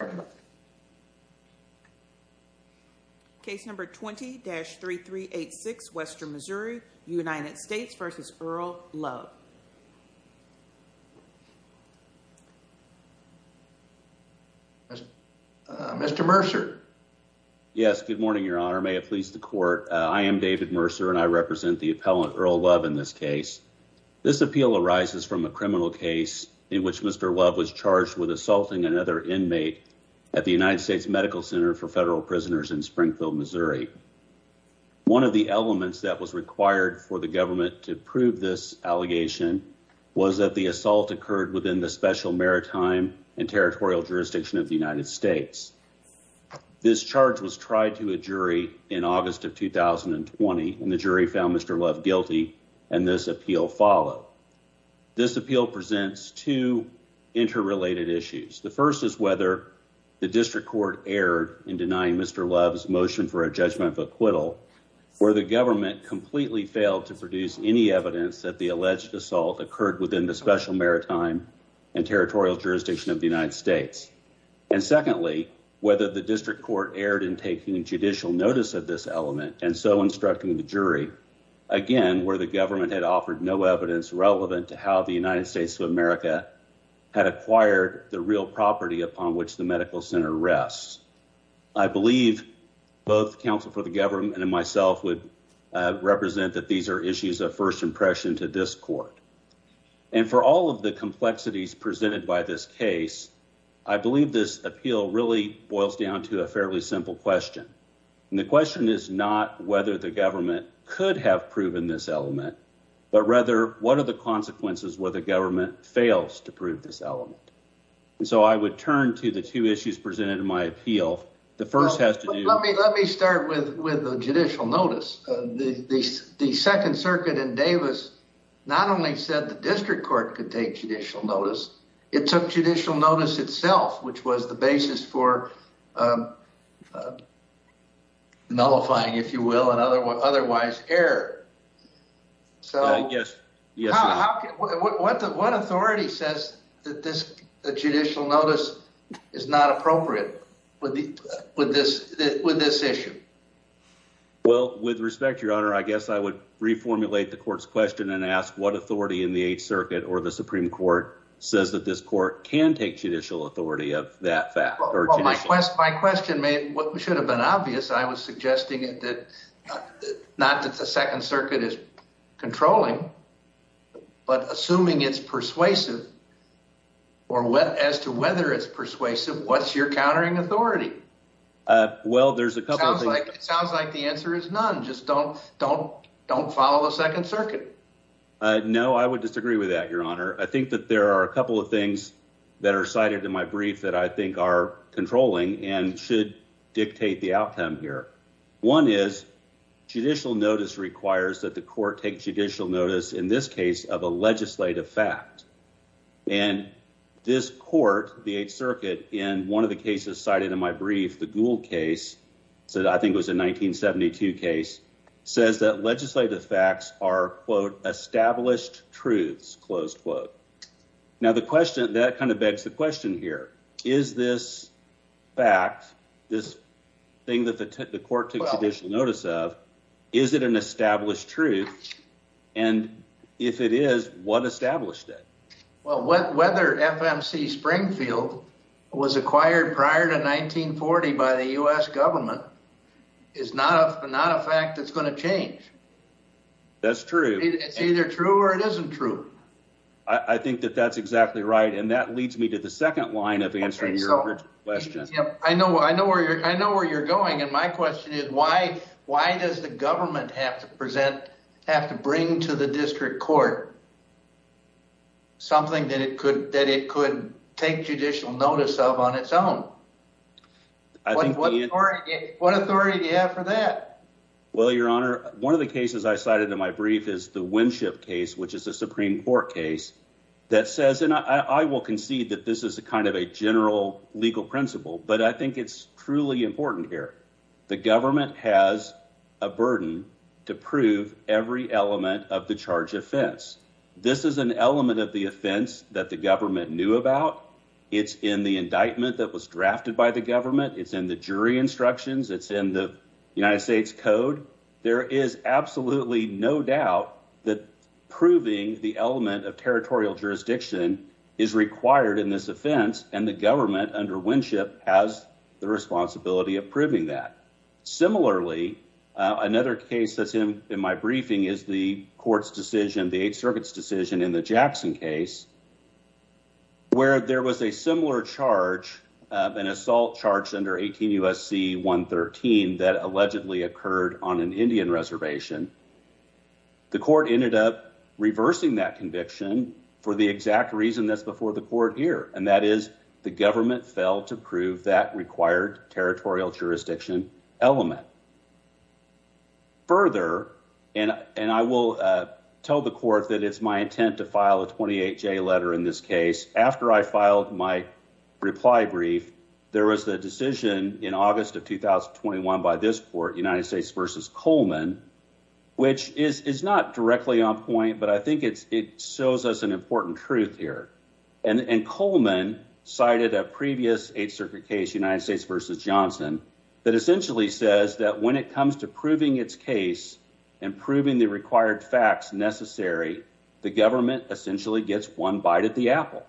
Yes, good morning, your honor. May it please the court. I am David Mercer and I represent the appellant Earl Love in this case. This appeal arises from a criminal case in which United States Medical Center for Federal Prisoners in Springfield, Missouri. One of the elements that was required for the government to prove this allegation was that the assault occurred within the special maritime and territorial jurisdiction of the United States. This charge was tried to a jury in August of 2020 and the jury found Mr. Love guilty and this appeal followed. This appeal presents two interrelated issues. The first is whether the district court erred in denying Mr. Love's motion for a judgment of acquittal where the government completely failed to produce any evidence that the alleged assault occurred within the special maritime and territorial jurisdiction of the United States. And secondly, whether the district court erred in taking judicial notice of this element and so instructing the jury. Again, where the government had offered no evidence relevant to how the United States of America had acquired the real property upon which the medical center rests. I believe both counsel for the government and myself would represent that these are issues of first impression to this court. And for all of the complexities presented by this case, I believe this appeal really boils down to a fairly simple question. And the question is not whether the government could have proven this element, but rather what are the consequences where the government fails to prove this element? And so I would turn to the two issues presented in my appeal. The first has to do. Let me start with the judicial notice. The second circuit in Davis not only said the district court could take judicial notice, it took otherwise error. So yes, yes. What authority says that this judicial notice is not appropriate with the with this with this issue? Well, with respect, your honor, I guess I would reformulate the court's question and ask what authority in the Eighth Circuit or the Supreme Court says that this court can take judicial authority of that fact or my quest. My question made what should have been obvious. I was suggesting that not that the Second Circuit is controlling, but assuming it's persuasive or wet as to whether it's persuasive. What's your countering authority? Well, there's a couple of things. It sounds like the answer is none. Just don't don't don't follow the Second Circuit. No, I would disagree with that, your honor. I think that there are a couple of things that are cited in my brief that I think are controlling and should dictate the outcome here. One is judicial notice requires that the court take judicial notice in this case of a legislative fact. And this court, the Eighth Circuit, in one of the cases cited in my brief, the Gould case that I think was a 1972 case, says that legislative facts are, quote, established truths. Close quote. Now, the question that kind of begs the question here, is this fact this thing that the court took judicial notice of? Is it an established truth? And if it is, what established it? Well, whether FMC Springfield was acquired prior to 1940 by the U.S. government is not a not a fact that's going to change. That's true. It's either true or it isn't true. I think you're exactly right. And that leads me to the second line of answering your question. I know I know where I know where you're going. And my question is, why? Why does the government have to present have to bring to the district court something that it could that it could take judicial notice of on its own? What authority do you have for that? Well, your honor, one of the cases I cited in my brief is the Winship case, which is a Supreme Court case that says I will concede that this is a kind of a general legal principle, but I think it's truly important here. The government has a burden to prove every element of the charge offense. This is an element of the offense that the government knew about. It's in the indictment that was drafted by the government. It's in the jury instructions. It's in the United States Code. There is absolutely no doubt that proving the element of territorial jurisdiction is required in this offense, and the government under Winship has the responsibility of proving that. Similarly, another case that's in my briefing is the court's decision, the Eighth Circuit's decision in the Jackson case, where there was a similar charge, an assault charge under 18 U.S.C. 113 that allegedly occurred on an Indian reservation. The court ended up reversing that conviction for the exact reason that's before the court here, and that is the government failed to prove that required territorial jurisdiction element. Further, and I will tell the court that it's my intent to file a 28-J letter in this case. After I filed my by this court, United States v. Coleman, which is not directly on point, but I think it shows us an important truth here. Coleman cited a previous Eighth Circuit case, United States v. Johnson, that essentially says that when it comes to proving its case and proving the required facts necessary, the government essentially gets one bite at the apple.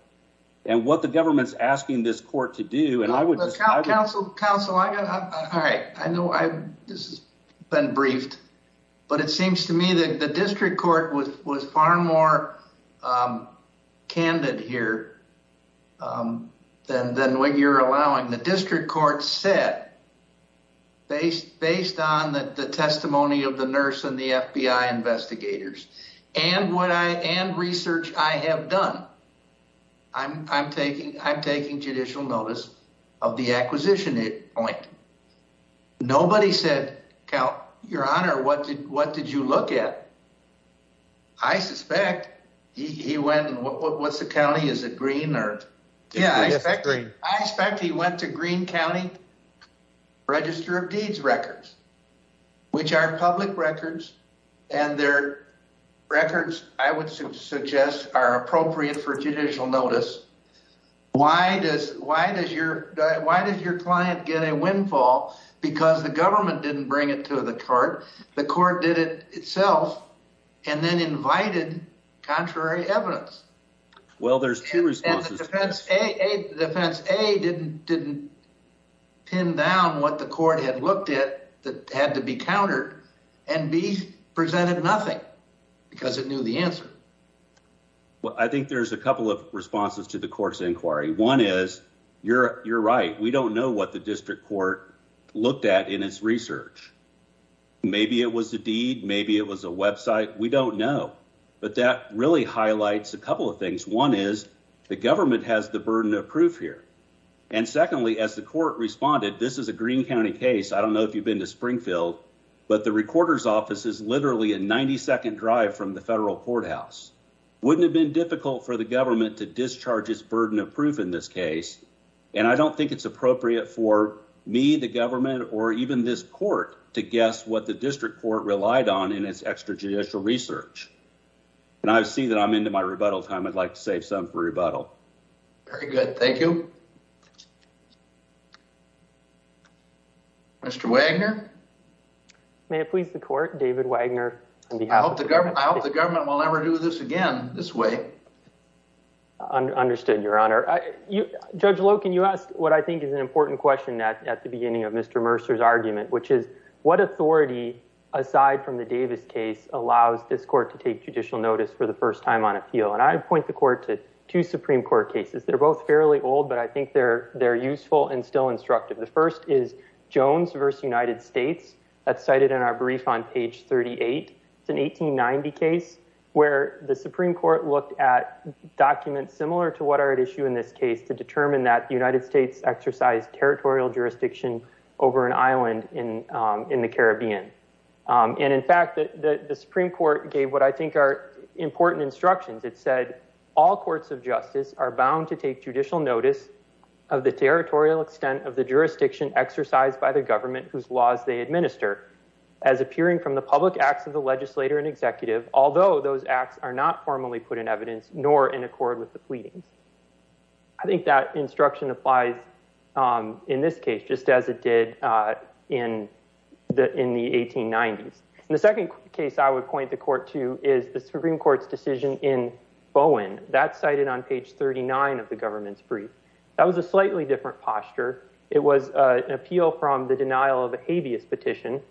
What the government's asking this court to do, and I would just... Counsel, I know this has been briefed, but it seems to me that the district court was far more candid here than what you're allowing. The district court said, based on the testimony of the nurse and the FBI investigators and research I have done, I'm taking judicial notice of the acquisition point. Nobody said, Your Honor, what did you look at? I suspect he went... What's the county? Is it green or... I suspect he went to Green County Register of Deeds records, which are public records, and their records, I would suggest, are appropriate for judicial notice. Why does your client get a windfall? Because the government didn't bring it to the court. The court did it itself and then invited contrary evidence. Well, there's two responses to this. Defense A didn't pin down what the court had looked at that had to be countered, and B presented nothing because it knew the answer. Well, I think there's a couple of responses to the court's inquiry. One is, you're right. We don't know what the district court looked at in its research. Maybe it was a deed. Maybe it was a website. We don't know. But that really highlights a couple of things. One is, the government has the burden of proof here. And secondly, as the court responded, this is a Green County case. I don't know if you've been to Springfield, but the recorder's office is literally a 90-second drive from the federal courthouse. Wouldn't have been difficult for the government to discharge its burden of proof in this case. And I don't think it's appropriate for me, the government, or even this court to guess what the district court relied on in its extrajudicial research. And I see that I'm into my rebuttal time. I'd like to save some for rebuttal. Very good. Thank you. Mr. Wagner? May it please the court, David Wagner, on behalf of the- I hope the government will never do this again this way. Understood, Your Honor. Judge Loken, you asked what I think is an important question at the beginning of Mr. Mercer's argument, which is, what authority, aside from the Davis case, allows this court to take judicial notice for the first time on appeal? And I point the court to two Supreme Court cases. They're both fairly old, but I think they're useful and still instructive. The first is Jones v. United States. That's cited in our brief on page 38. It's an 1890 case where the Supreme Court looked at documents similar to what are at issue in this case to determine that the United States exercised territorial jurisdiction over an island in the Caribbean. And in fact, the Supreme Court gave what I think are important instructions. It said, all courts of justice are bound to take judicial notice of the territorial extent of the jurisdiction exercised by the government whose laws they administer as appearing from the public acts of the legislator and executive, although those acts are not formally put in evidence nor in accord with the pleadings. I think that instruction applies in this case, just as it did in the 1890s. And the second case I would point the court to is the Supreme Court's decision in Bowen. That's cited on page 39 of the government's brief. That was a slightly different posture. It was an appeal from the denial of a habeas petition.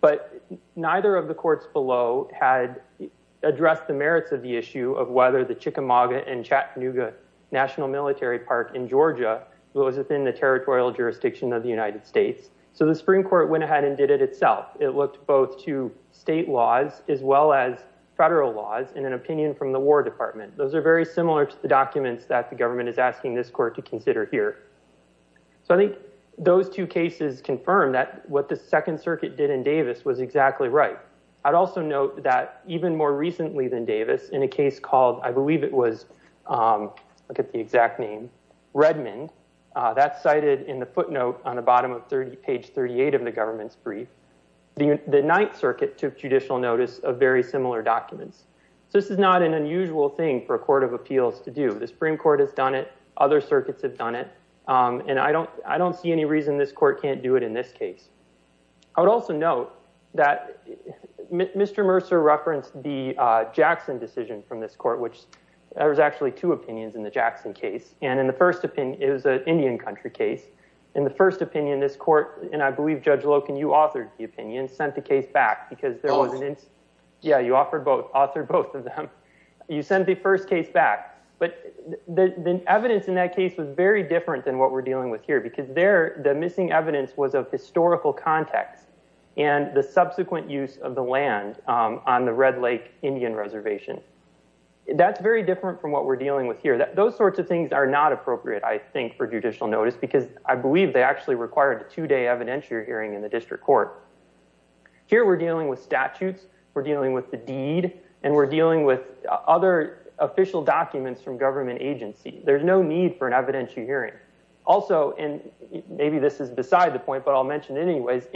But neither of the courts below had addressed the merits of the issue of whether the Chickamauga and Chattanooga National Military Park in Georgia was within the territorial jurisdiction of the United States. So the Supreme Court went ahead and did it itself. It looked both to state laws as well as federal laws and an opinion from the War Department. Those are very similar to the documents that the are here. So I think those two cases confirm that what the Second Circuit did in Davis was exactly right. I'd also note that even more recently than Davis, in a case called, I believe it was, I forget the exact name, Redmond, that's cited in the footnote on the bottom of page 38 of the government's brief, the Ninth Circuit took judicial notice of very similar documents. So this is not an unusual thing for a court of appeals to do. The Supreme Court has done it. Other circuits have done it. And I don't see any reason this court can't do it in this case. I would also note that Mr. Mercer referenced the Jackson decision from this court, which there was actually two opinions in the Jackson case. And in the first opinion, it was an Indian country case. In the first opinion, this court, and I believe, Judge Loken, you authored the opinion, sent the case back because there was an incident. Yeah, you authored both of them. You sent the first case back. But the evidence in that case was very different than what we're dealing with here, because there, the missing evidence was of historical context and the subsequent use of the land on the Red Lake Indian Reservation. That's very different from what we're dealing with here. Those sorts of things are not appropriate, I think, for judicial notice, because I believe they actually required a two-day evidentiary hearing in the district court. Here, we're dealing with statutes, we're dealing with the deed, and we're dealing with other official documents from government agency. There's no need for an evidentiary hearing. Also, and maybe this is beside the point, but I'll mention it anyways,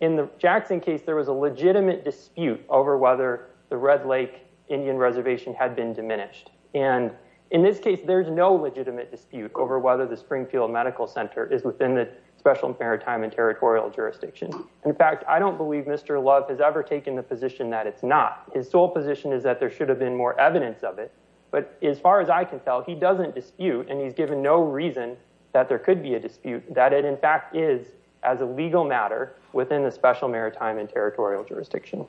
in the Jackson case, there was a legitimate dispute over whether the Red Lake Indian Reservation had been diminished. And in this case, there's no legitimate dispute over whether the Springfield Medical Center is special maritime and territorial jurisdiction. In fact, I don't believe Mr. Love has ever taken the position that it's not. His sole position is that there should have been more evidence of it. But as far as I can tell, he doesn't dispute, and he's given no reason that there could be a dispute, that it in fact is, as a legal matter, within the special maritime and territorial jurisdiction.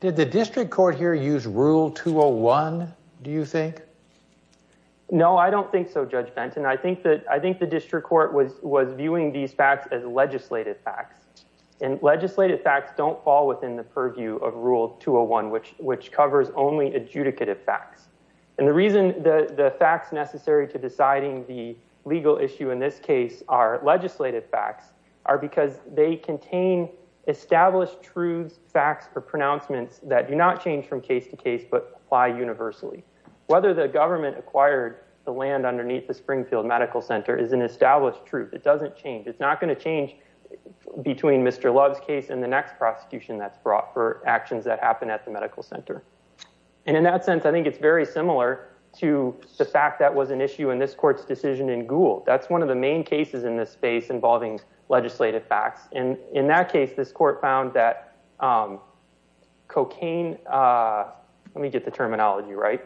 Did the district court here use Rule 201, do you think? No, I don't think so, I think the district court was viewing these facts as legislative facts. And legislative facts don't fall within the purview of Rule 201, which covers only adjudicative facts. And the reason the facts necessary to deciding the legal issue in this case are legislative facts, are because they contain established truths, facts, or pronouncements that do not change from medical center is an established truth. It doesn't change. It's not going to change between Mr. Love's case and the next prosecution that's brought for actions that happen at the medical center. And in that sense, I think it's very similar to the fact that was an issue in this court's decision in Gould. That's one of the main cases in this space involving legislative facts. And in that case, this court found that cocaine, let me get the terminology right,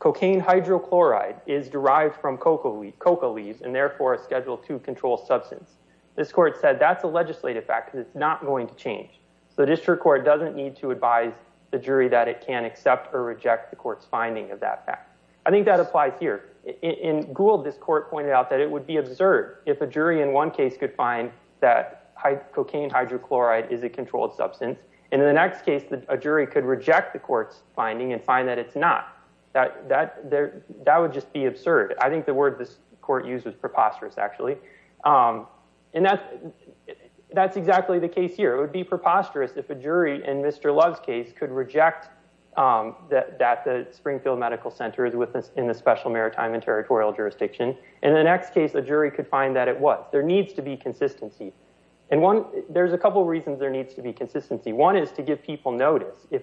cocaine hydrochloride is derived from cocoa leaves, and therefore a Schedule II-controlled substance. This court said that's a legislative fact, because it's not going to change. So the district court doesn't need to advise the jury that it can accept or reject the court's finding of that fact. I think that applies here. In Gould, this court pointed out that it would be absurd if a jury in one case could find that cocaine hydrochloride is a controlled substance, and in the next case, a jury could reject the court's finding and find that it's not. That would just be absurd. I think the word this court used was preposterous, actually. And that's exactly the case here. It would be preposterous if a jury in Mr. Love's case could reject that the Springfield Medical Center is in the Special Maritime and Territorial Jurisdiction. In the next case, a jury could find that it was. There needs to be consistency. And there's a couple reasons there needs to be consistency. One is to give people notice. Is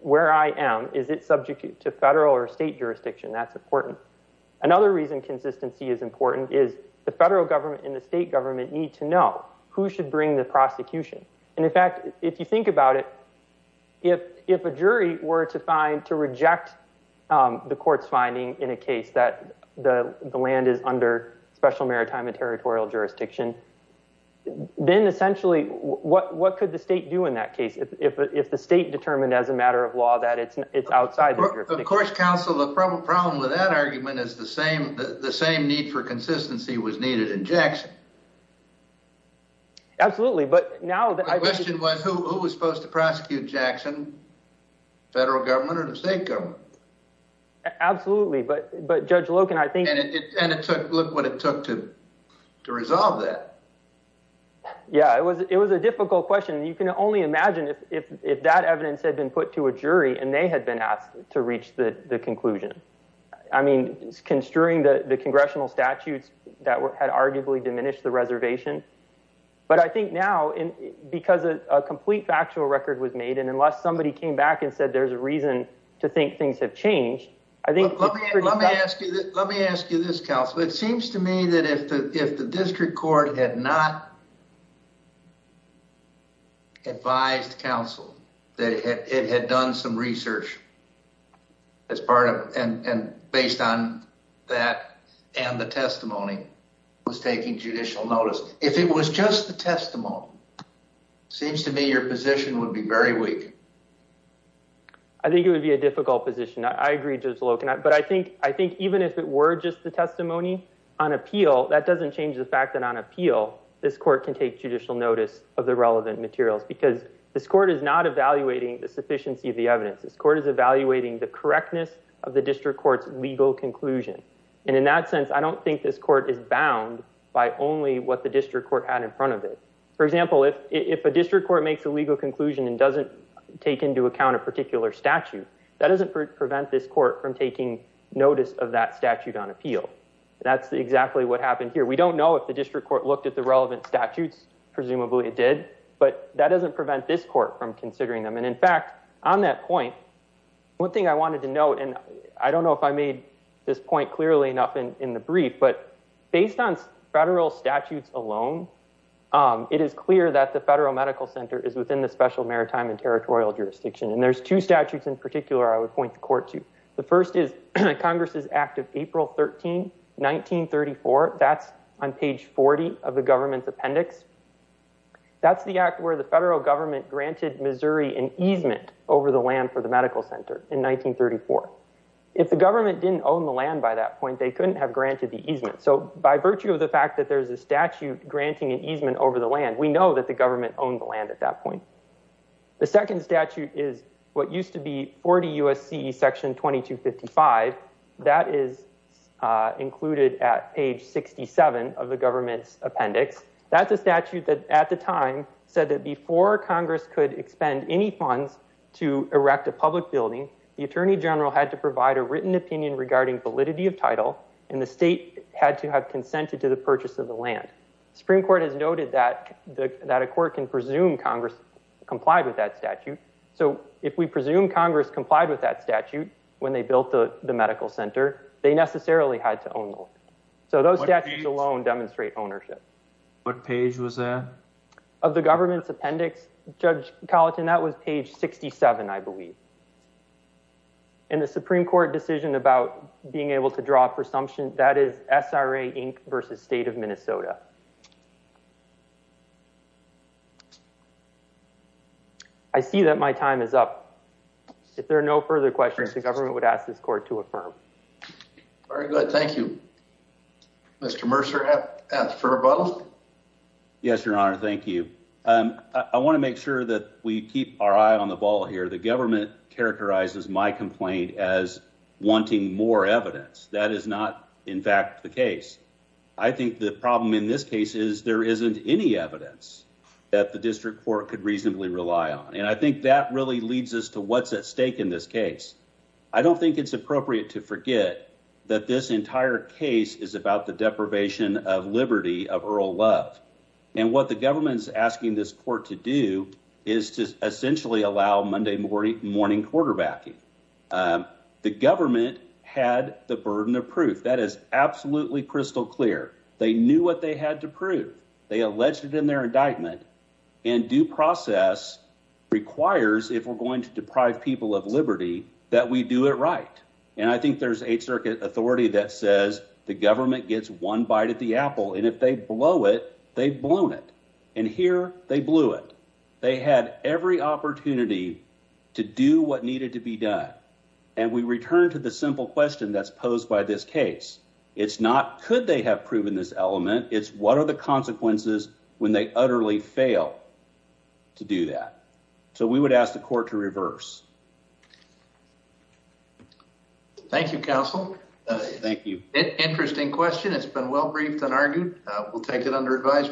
where I am, is it subject to federal or state jurisdiction? That's important. Another reason consistency is important is the federal government and the state government need to know who should bring the prosecution. And in fact, if you think about it, if a jury were to reject the court's finding in a case that the land is under Special Maritime and Territorial Jurisdiction, then essentially what could the state do in that case if the state determined as a matter of law that it's outside the jurisdiction? Of course, counsel, the problem with that argument is the same need for consistency was needed in Jackson. Absolutely, but now... My question was who was supposed to prosecute Jackson, federal government or the state government? Absolutely, but Judge Loken, I think... And it took... Look what it took to resolve that. Yeah, it was a difficult question. You can only imagine if that evidence had been put to a jury and they had been asked to reach the conclusion. I mean, it's construing the congressional statutes that had arguably diminished the reservation. But I think now, because a complete factual record was made and unless somebody came back and said, there's a reason to think things have changed, it seems to me that if the district court had not advised counsel that it had done some research as part of... And based on that and the testimony was taking judicial notice. If it was just the testimony, it seems to me your position would be very weak. I think it would be a difficult position. I agree, Judge Loken. But I think even if it were just the testimony on appeal, that doesn't change the fact that on appeal, this court can take judicial notice of the relevant materials because this court is not evaluating the sufficiency of the evidence. This court is evaluating the correctness of the district court's legal conclusion. And in that sense, I don't think this court is bound by only what the district court had in front of it. For example, if a district court makes a legal conclusion and doesn't take into account a particular statute, that doesn't prevent this court from taking notice of that statute on appeal. That's exactly what happened here. We don't know if the district court looked at the relevant statutes, presumably it did, but that doesn't prevent this court from considering them. And in fact, on that point, one thing I wanted to note, and I don't know if I made this point clearly enough in the brief, but based on federal statutes alone, it is clear that the federal medical center is within the special maritime and territorial jurisdiction. And there's two statutes in particular I would point the court to. The first is Congress's Act of April 13, 1934. That's on page 40 of the government's appendix. That's the act where the federal government granted Missouri an easement over the land for the medical center in 1934. If the government didn't own the land by that point, they couldn't have granted the easement. So by virtue of the fact that there's a statute granting an easement over the land, we know that the government owned the land at that point. The second statute is what used to be 40 U.S.C. section 2255. That is included at page 67 of the government's appendix. That's a statute that at the time said that before Congress could expend any funds to erect a public building, the attorney general had to provide a written opinion regarding validity of title, and the state had to have consented to the purchase of the land. The Supreme Court has noted that a court can presume Congress complied with that statute. So if we presume Congress complied with that statute when they built the medical center, they necessarily had to own the land. So those statutes alone demonstrate ownership. What page was that? Of the government's appendix, Judge Colleton, that was page 67, I believe. And the Supreme Court decision about being able to draw a presumption, that is SRA Inc. versus State of Minnesota. I see that my time is up. If there are no further questions, the government would ask this court to affirm. Very good. Thank you. Mr. Mercer at the fur bottle? Yes, Your Honor. Thank you. I want to make sure that we keep our eye on the ball here. The government characterizes my complaint as wanting more evidence. That is not, in fact, the case. I think the problem in this case is there isn't any evidence that the district court could reasonably rely on. And I think that really leads us to what's at stake in this case. I don't think it's appropriate to forget that this entire case is about the deprivation of liberty, of oral love. And what the government's asking this court to do is to essentially allow Monday morning quarterbacking. The government had the burden of proof. That is absolutely crystal clear. They knew what they had to prove. They alleged it in their indictment. And due process requires, if we're going to deprive people of liberty, that we do it right. And I think there's Eighth Circuit authority that says the government gets one bite at the apple, and if they blow it, they've blown it. And here, they blew it. They had every opportunity to do what needed to be done. And we return to the simple question that's posed by this case. It's not could they have proven this element. It's what are the consequences when they utterly fail to do that. So we would ask the court to reverse. Thank you, counsel. Thank you. Interesting question. It's been well-briefed and argued. We'll take it under advisement.